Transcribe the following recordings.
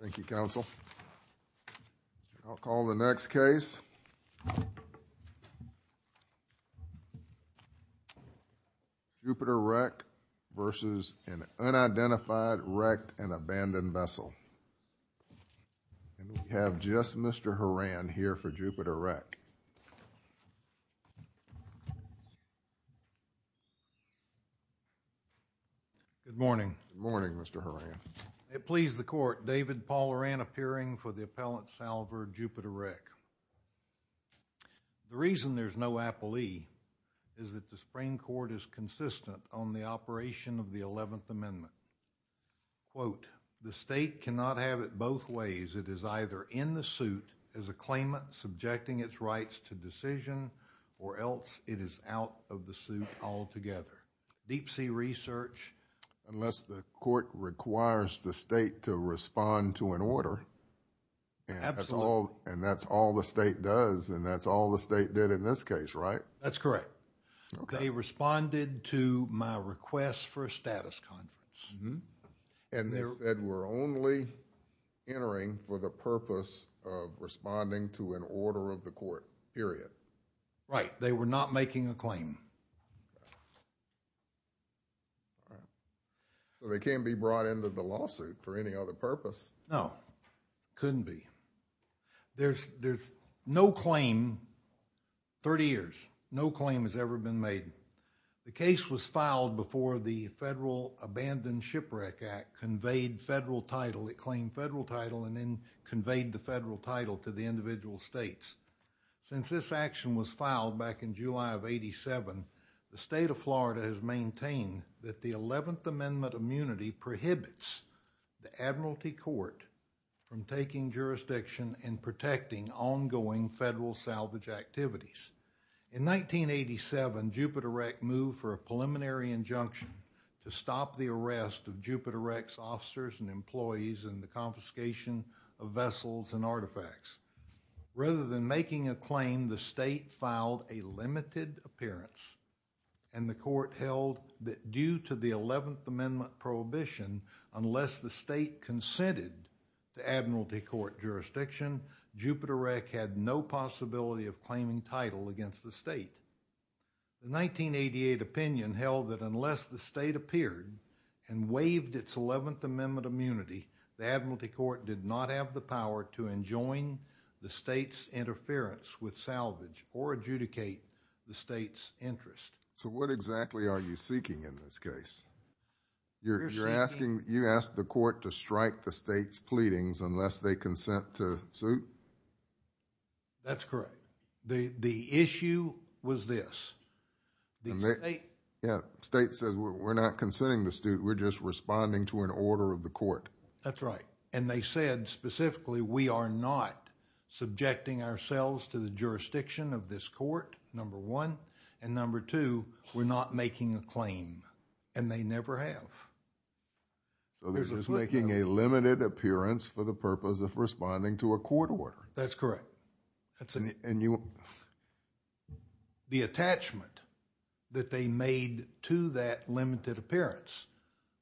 Thank you, Counsel. I'll call the next case. Jupiter Wreck v. Unidentified Wrecked & Abandoned Vessel And we have just Mr. Horan here for Jupiter Wreck. Good morning. Good morning, Mr. Horan. It pleased the Court, David Paul Horan appearing for the Appellant Salver, Jupiter Wreck. The reason there's no applee is that the Supreme Court is consistent on the operation of the Eleventh Amendment. Quote, the State cannot have it both ways. It is either in the suit as a claimant subjecting its rights to decision or else it is out of the suit altogether. Deep Sea Research... Unless the Court requires the State to respond to an order. Absolutely. And that's all the State does and that's all the State did in this case, right? That's correct. Okay. They responded to my request for a status conference. And they said we're only entering for the purpose of responding to an order of the Court, period. Right. They were not making a claim. Okay. All right. So they can't be brought into the lawsuit for any other purpose? No. Couldn't be. There's no claim, 30 years, no claim has ever been made. The case was filed before the Federal Abandoned Shipwreck Act conveyed federal title. It claimed federal title and then conveyed the federal title to the individual States. Since this action was filed back in July of 87, the State of Florida has maintained that the 11th Amendment immunity prohibits the Admiralty Court from taking jurisdiction and protecting ongoing federal salvage activities. In 1987, Jupiter Rec moved for a preliminary injunction to stop the arrest of Jupiter Rec's officers and employees and the confiscation of vessels and artifacts. Rather than making a claim, the State filed a limited appearance and the Court held that due to the 11th Amendment prohibition, unless the State consented to Admiralty Court jurisdiction, Jupiter Rec had no possibility of claiming title against the State. The 1988 opinion held that unless the State appeared and waived its 11th Amendment immunity, the Admiralty Court did not have the power to enjoin the State's interference with salvage or adjudicate the State's interest. So what exactly are you seeking in this case? You're asking, you asked the Court to strike the State's pleadings unless they consent to suit? That's correct. The issue was this, the State... Yeah, the State said, we're not consenting to suit, we're just responding to an order of the Court. That's right. And they said specifically, we are not subjecting ourselves to the jurisdiction of this Court, number one. And number two, we're not making a claim. And they never have. So they're just making a limited appearance for the purpose of responding to a court order. That's correct. And you... The attachment that they made to that limited appearance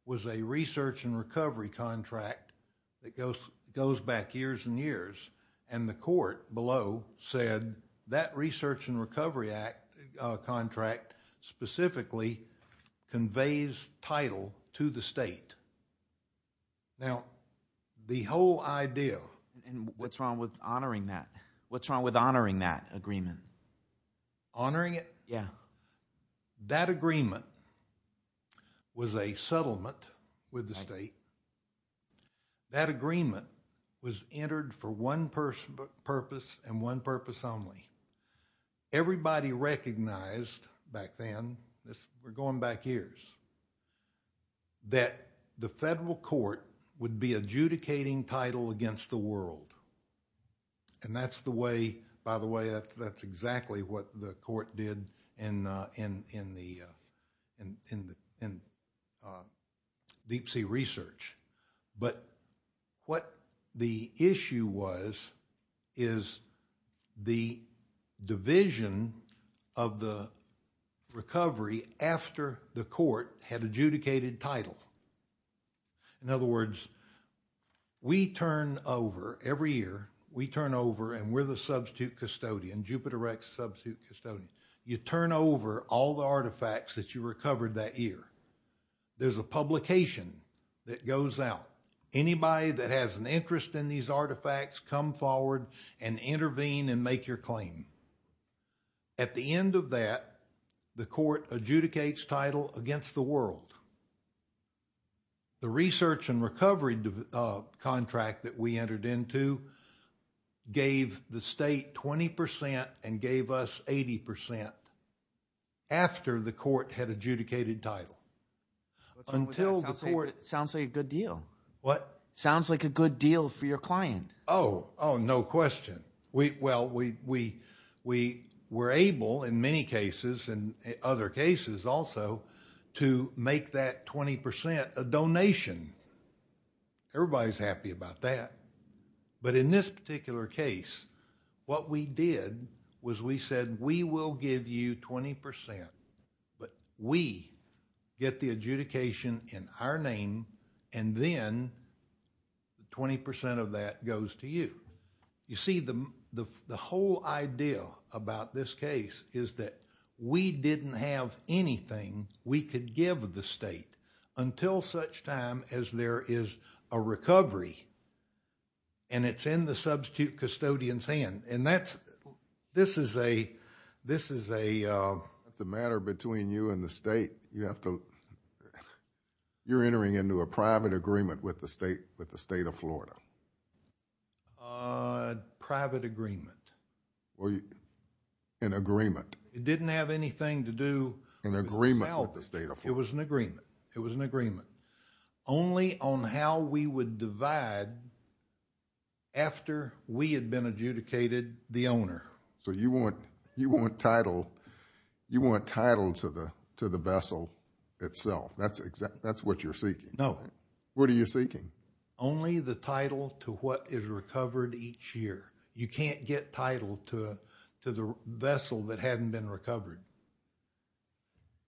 was a research and recovery contract that goes back years and years. And the Court below said that research and recovery contract specifically conveys title to the State. Now, the whole idea... And what's wrong with honoring that? What's wrong with honoring that agreement? Honoring it? Yeah. That agreement was a settlement with the State. That agreement was entered for one purpose and one purpose only. Everybody recognized back then, we're going back years, that the Federal Court would be adjudicating title against the world. And that's the way... By the way, that's exactly what the Court did in Deep Sea Research. But what the issue was is the division of the recovery after the Court had adjudicated title. In other words, we turn over every year, we turn over and we're the substitute custodian, Jupiter Rex substitute custodian. You turn over all the artifacts that you recovered that year. There's a publication that goes out. Anybody that has an interest in these artifacts come forward and intervene and make your claim. At the end of that, the Court adjudicates title against the world. The research and recovery contract that we entered into gave the State 20% and gave us 80% after the Court had adjudicated title. Until before... Sounds like a good deal. What? Sounds like a good deal for your client. Oh, no question. Well, we were able in many cases and other cases also to make that 20% a donation. Everybody's happy about that. But in this particular case, what we did was we said we will give you 20%. But we get the adjudication in our name and then 20% of that goes to you. You see, the whole idea about this case is that we didn't have anything we could give the State until such time as there is a recovery and it's in the substitute custodian's hand. This is a... It's a matter between you and the State. You're entering into a private agreement with the State of Florida. Private agreement. An agreement. It didn't have anything to do... An agreement with the State of Florida. It was an agreement. Only on how we would divide after we had been adjudicated the owner. So, you want title to the vessel itself. That's what you're seeking. No. What are you seeking? Only the title to what is recovered each year. You can't get title to the vessel that hadn't been recovered.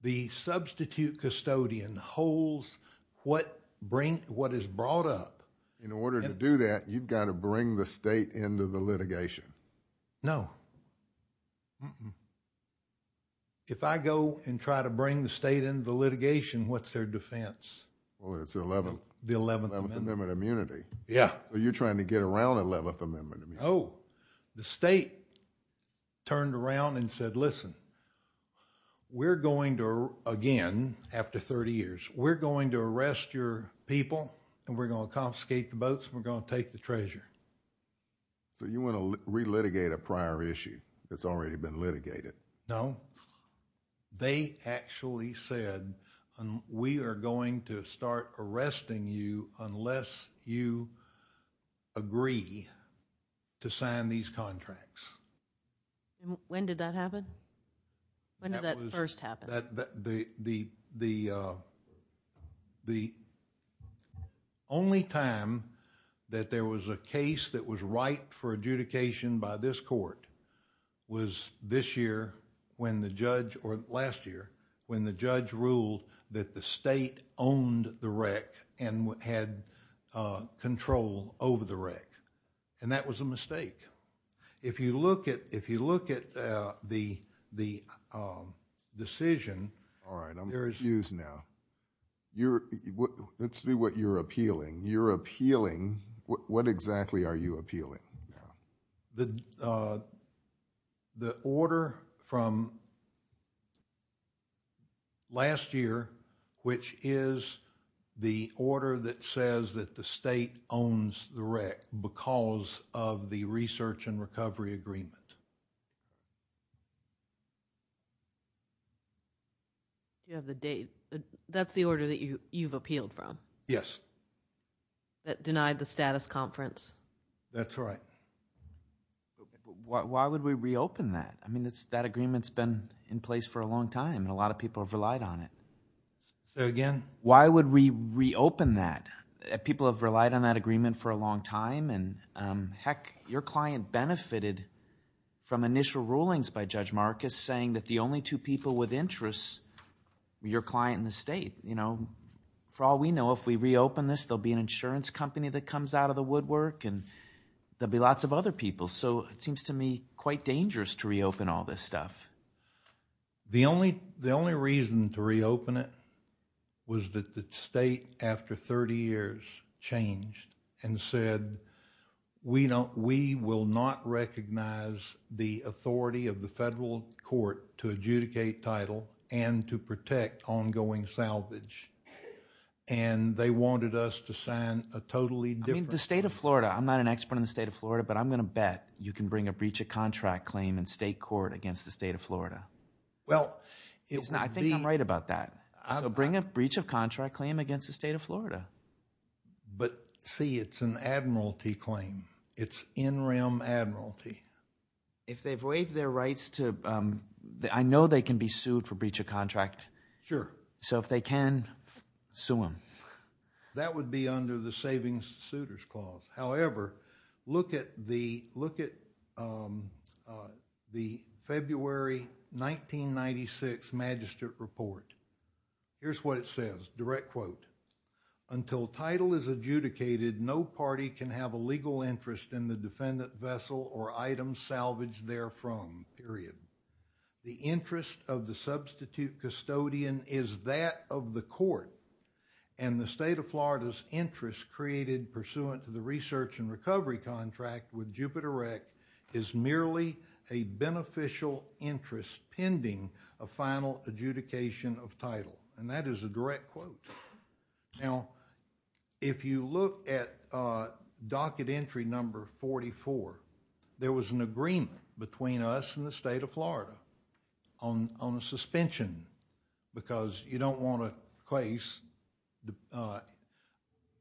The substitute custodian holds what is brought up. In order to do that, you've got to bring the State into the litigation. No. If I go and try to bring the State into the litigation, what's their defense? Well, it's the 11th Amendment of Immunity. Yeah. Oh, the State turned around and said, listen, we're going to, again, after 30 years, we're going to arrest your people and we're going to confiscate the boats and we're going to take the treasure. So, you want to re-litigate a prior issue that's already been litigated? No. They actually said, we are going to start arresting you unless you agree to sign these contracts. When did that happen? When did that first happen? The only time that there was a case that was right for adjudication by this court was this year when the judge, or last year, when the judge ruled that the State owned the wreck and had control over the wreck. And that was a mistake. If you look at the decision, there is... All right, I'm confused now. Let's see what you're appealing. You're appealing, what exactly are you appealing? The order from last year, which is the order that says that the State owns the wreck because of the research and recovery agreement. You have the date. That's the order that you've appealed from? Yes. That denied the status conference? That's right. Why would we reopen that? I mean, that agreement's been in place for a long time, and a lot of people have relied on it. Say that again? Why would we reopen that? People have relied on that agreement for a long time, and heck, your client benefited from initial rulings by Judge Marcus saying that the only two people with interests were your client and the State. For all we know, if we reopen this, there will be an insurance company that comes out of the woodwork, and there will be lots of other people. So it seems to me quite dangerous to reopen all this stuff. The only reason to reopen it was that the State, after 30 years, changed and said, we will not recognize the authority of the federal court to adjudicate title and to protect ongoing salvage. And they wanted us to sign a totally different... I mean, the State of Florida, I'm not an expert on the State of Florida, but I'm going to bet you can bring a breach of contract claim in state court against the State of Florida. Well, it would be... I think I'm right about that. So bring a breach of contract claim against the State of Florida. But, see, it's an admiralty claim. It's in rem admiralty. If they've waived their rights to... I know they can be sued for breach of contract. Sure. So if they can, sue them. That would be under the Savings Suitors Clause. However, look at the February 1996 Magistrate Report. Here's what it says, direct quote. Until title is adjudicated, no party can have a legal interest in the defendant vessel or item salvaged therefrom, period. The interest of the substitute custodian is that of the court, and the State of Florida's interest created pursuant to the research and recovery contract with Jupiter Rec is merely a beneficial interest pending a final adjudication of title. And that is a direct quote. Now, if you look at Docket Entry Number 44, there was an agreement between us and the State of Florida on a suspension because you don't want a case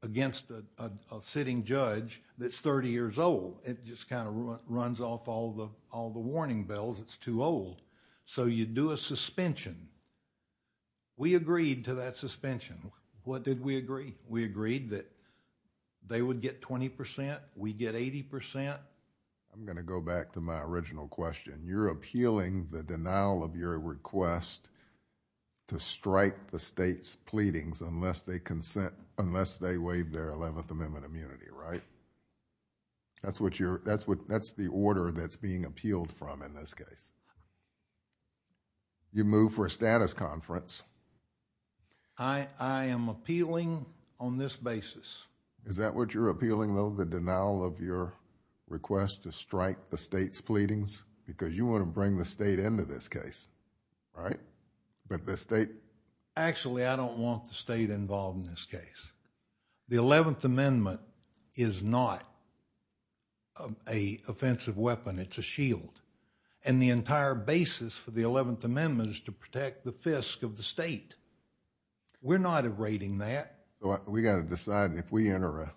against a sitting judge that's thirty years old. It just kind of runs off all the warning bells. It's too old. So you do a suspension. We agreed to that suspension. What did we agree? We agreed that they would get twenty percent, we get eighty percent. I'm going to go back to my original question. You're appealing the denial of your request to strike the State's pleadings unless they consent... unless they waive their Eleventh Amendment immunity, right? That's the order that's being appealed from in this case. You move for a status conference. I am appealing on this basis. Is that what you're appealing though, the denial of your request to strike the State's pleadings? Because you want to bring the State into this case, right? But the State... Actually, I don't want the State involved in this case. The Eleventh Amendment is not an offensive weapon. It's a shield. And the entire basis for the Eleventh Amendment is to protect the fisk of the State. We're not erading that. We've got to decide if we enter a...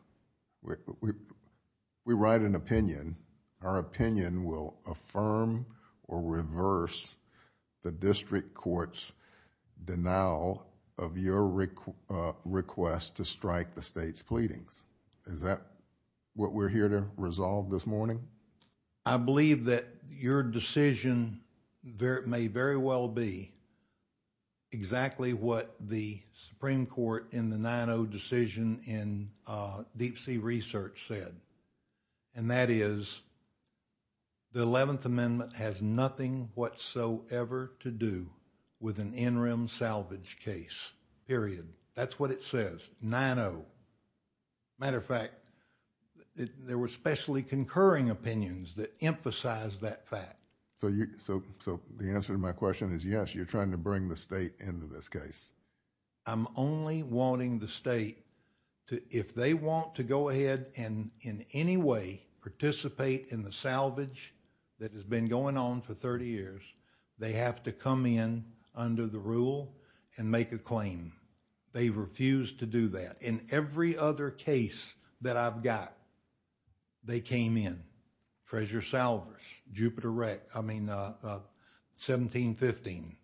we write an opinion. Our opinion will affirm or reverse the district court's denial of your request to strike the State's pleadings. Is that what we're here to resolve this morning? I believe that your decision may very well be exactly what the Supreme Court in the 9-0 decision in Deep Sea Research said. And that is the Eleventh Amendment has nothing whatsoever to do with an interim salvage case, period. That's what it says, 9-0. Matter of fact, there were specially concurring opinions that emphasize that fact. So the answer to my question is yes, you're trying to bring the State into this case. I'm only wanting the State to, if they want to go ahead and in any way participate in the salvage that has been going on for thirty years, they have to come in under the rule and make a claim. They refused to do that. In every other case that I've got, they came in. Frazier-Salvers, Jupiter-Reck, I mean 1715,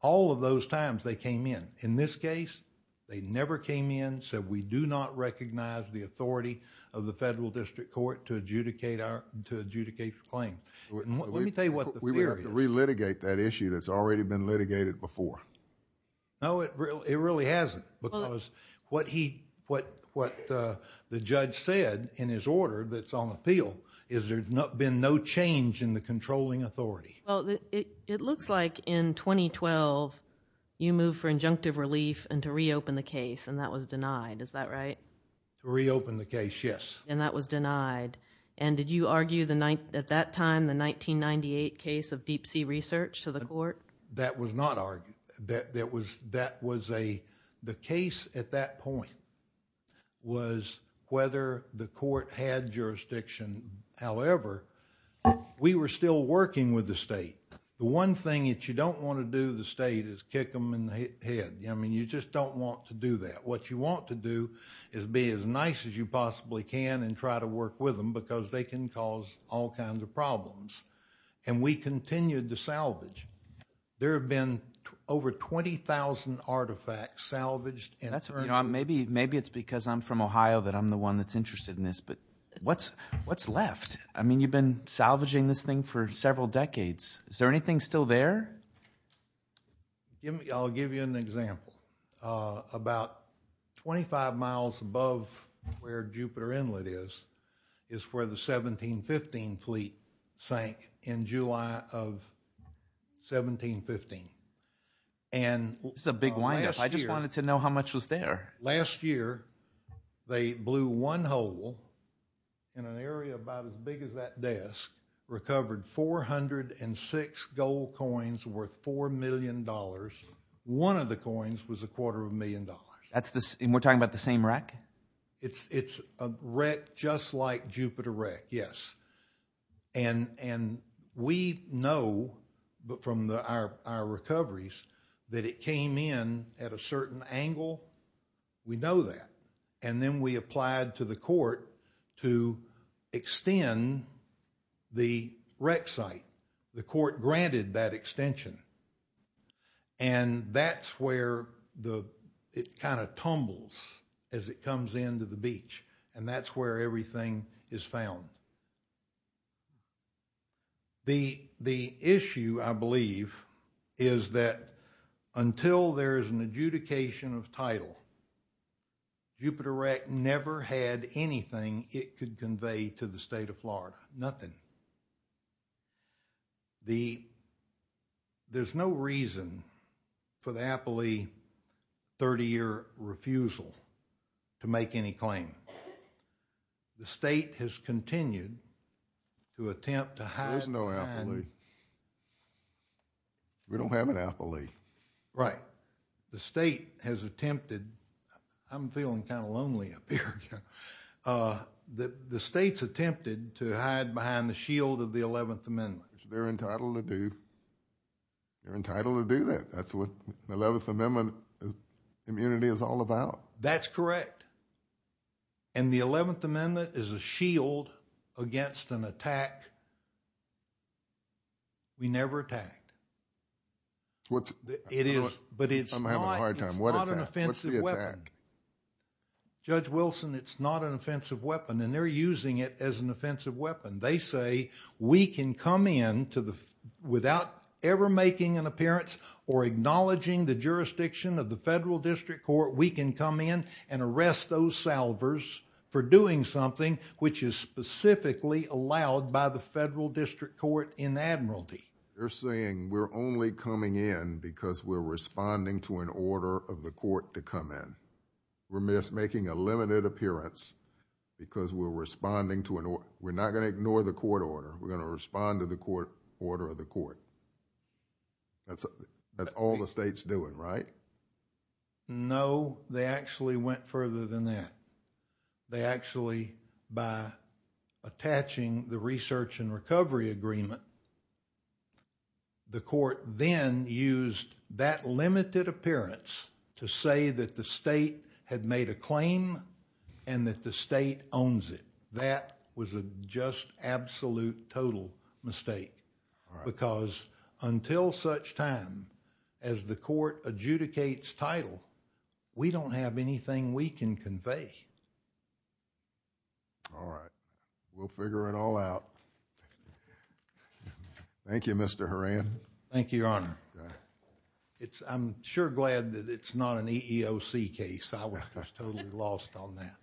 all of those times they came in. In this case, they never came in, said we do not recognize the authority of the federal district court to adjudicate the claim. Let me tell you what the fear is... We would have to re-litigate that issue that's already been litigated before. No, it really hasn't because what the judge said in his order that's on appeal is there's been no change in the controlling authority. Well, it looks like in 2012 you moved for injunctive relief and to reopen the case and that was denied. Is that right? To reopen the case, yes. And that was denied. And did you argue at that time the 1998 case of deep sea research to the court? That was not argued. The case at that point was whether the court had jurisdiction. However, we were still working with the state. The one thing that you don't want to do to the state is kick them in the head. I mean you just don't want to do that. What you want to do is be as nice as you possibly can and try to work with them because they can cause all kinds of problems. And we continued to salvage. There have been over 20,000 artifacts salvaged. Maybe it's because I'm from Ohio that I'm the one that's interested in this. But what's left? I mean you've been salvaging this thing for several decades. Is there anything still there? I'll give you an example. About 25 miles above where Jupiter Inlet is is where the 1715 fleet sank in July of 1715. This is a big wind up. I just wanted to know how much was there. Last year they blew one hole in an area about as big as that desk, recovered 406 gold coins worth $4 million. One of the coins was a quarter of a million dollars. And we're talking about the same wreck? It's a wreck just like Jupiter wreck, yes. And we know from our recoveries that it came in at a certain angle. We know that. And then we applied to the court to extend the wreck site. The court granted that extension. And that's where it kind of tumbles as it comes into the beach. And that's where everything is found. The issue, I believe, is that until there is an adjudication of title, Jupiter wreck never had anything it could convey to the state of Florida. Nothing. There's no reason for the appellee 30-year refusal to make any claim. The state has continued to attempt to hide behind. There's no appellee. We don't have an appellee. Right. The state has attempted. I'm feeling kind of lonely up here. The state's attempted to hide behind the shield of the 11th Amendment. Which they're entitled to do. They're entitled to do that. That's what the 11th Amendment immunity is all about. That's correct. And the 11th Amendment is a shield against an attack we never attacked. I'm having a hard time. What attack? What's the attack? Judge Wilson, it's not an offensive weapon. And they're using it as an offensive weapon. They say we can come in without ever making an appearance or acknowledging the jurisdiction of the federal district court. We can come in and arrest those salvers for doing something which is specifically allowed by the federal district court in Admiralty. They're saying we're only coming in because we're responding to an order of the court to come in. We're making a limited appearance because we're responding to an order. We're not going to ignore the court order. We're going to respond to the court order of the court. That's all the state's doing, right? No, they actually went further than that. They actually, by attaching the research and recovery agreement, the court then used that limited appearance to say that the state had made a claim and that the state owns it. That was a just absolute total mistake because until such time as the court adjudicates title, we don't have anything we can convey. All right. We'll figure it all out. Thank you, Mr. Horan. Thank you, Your Honor. I'm sure glad that it's not an EEOC case. I was totally lost on that.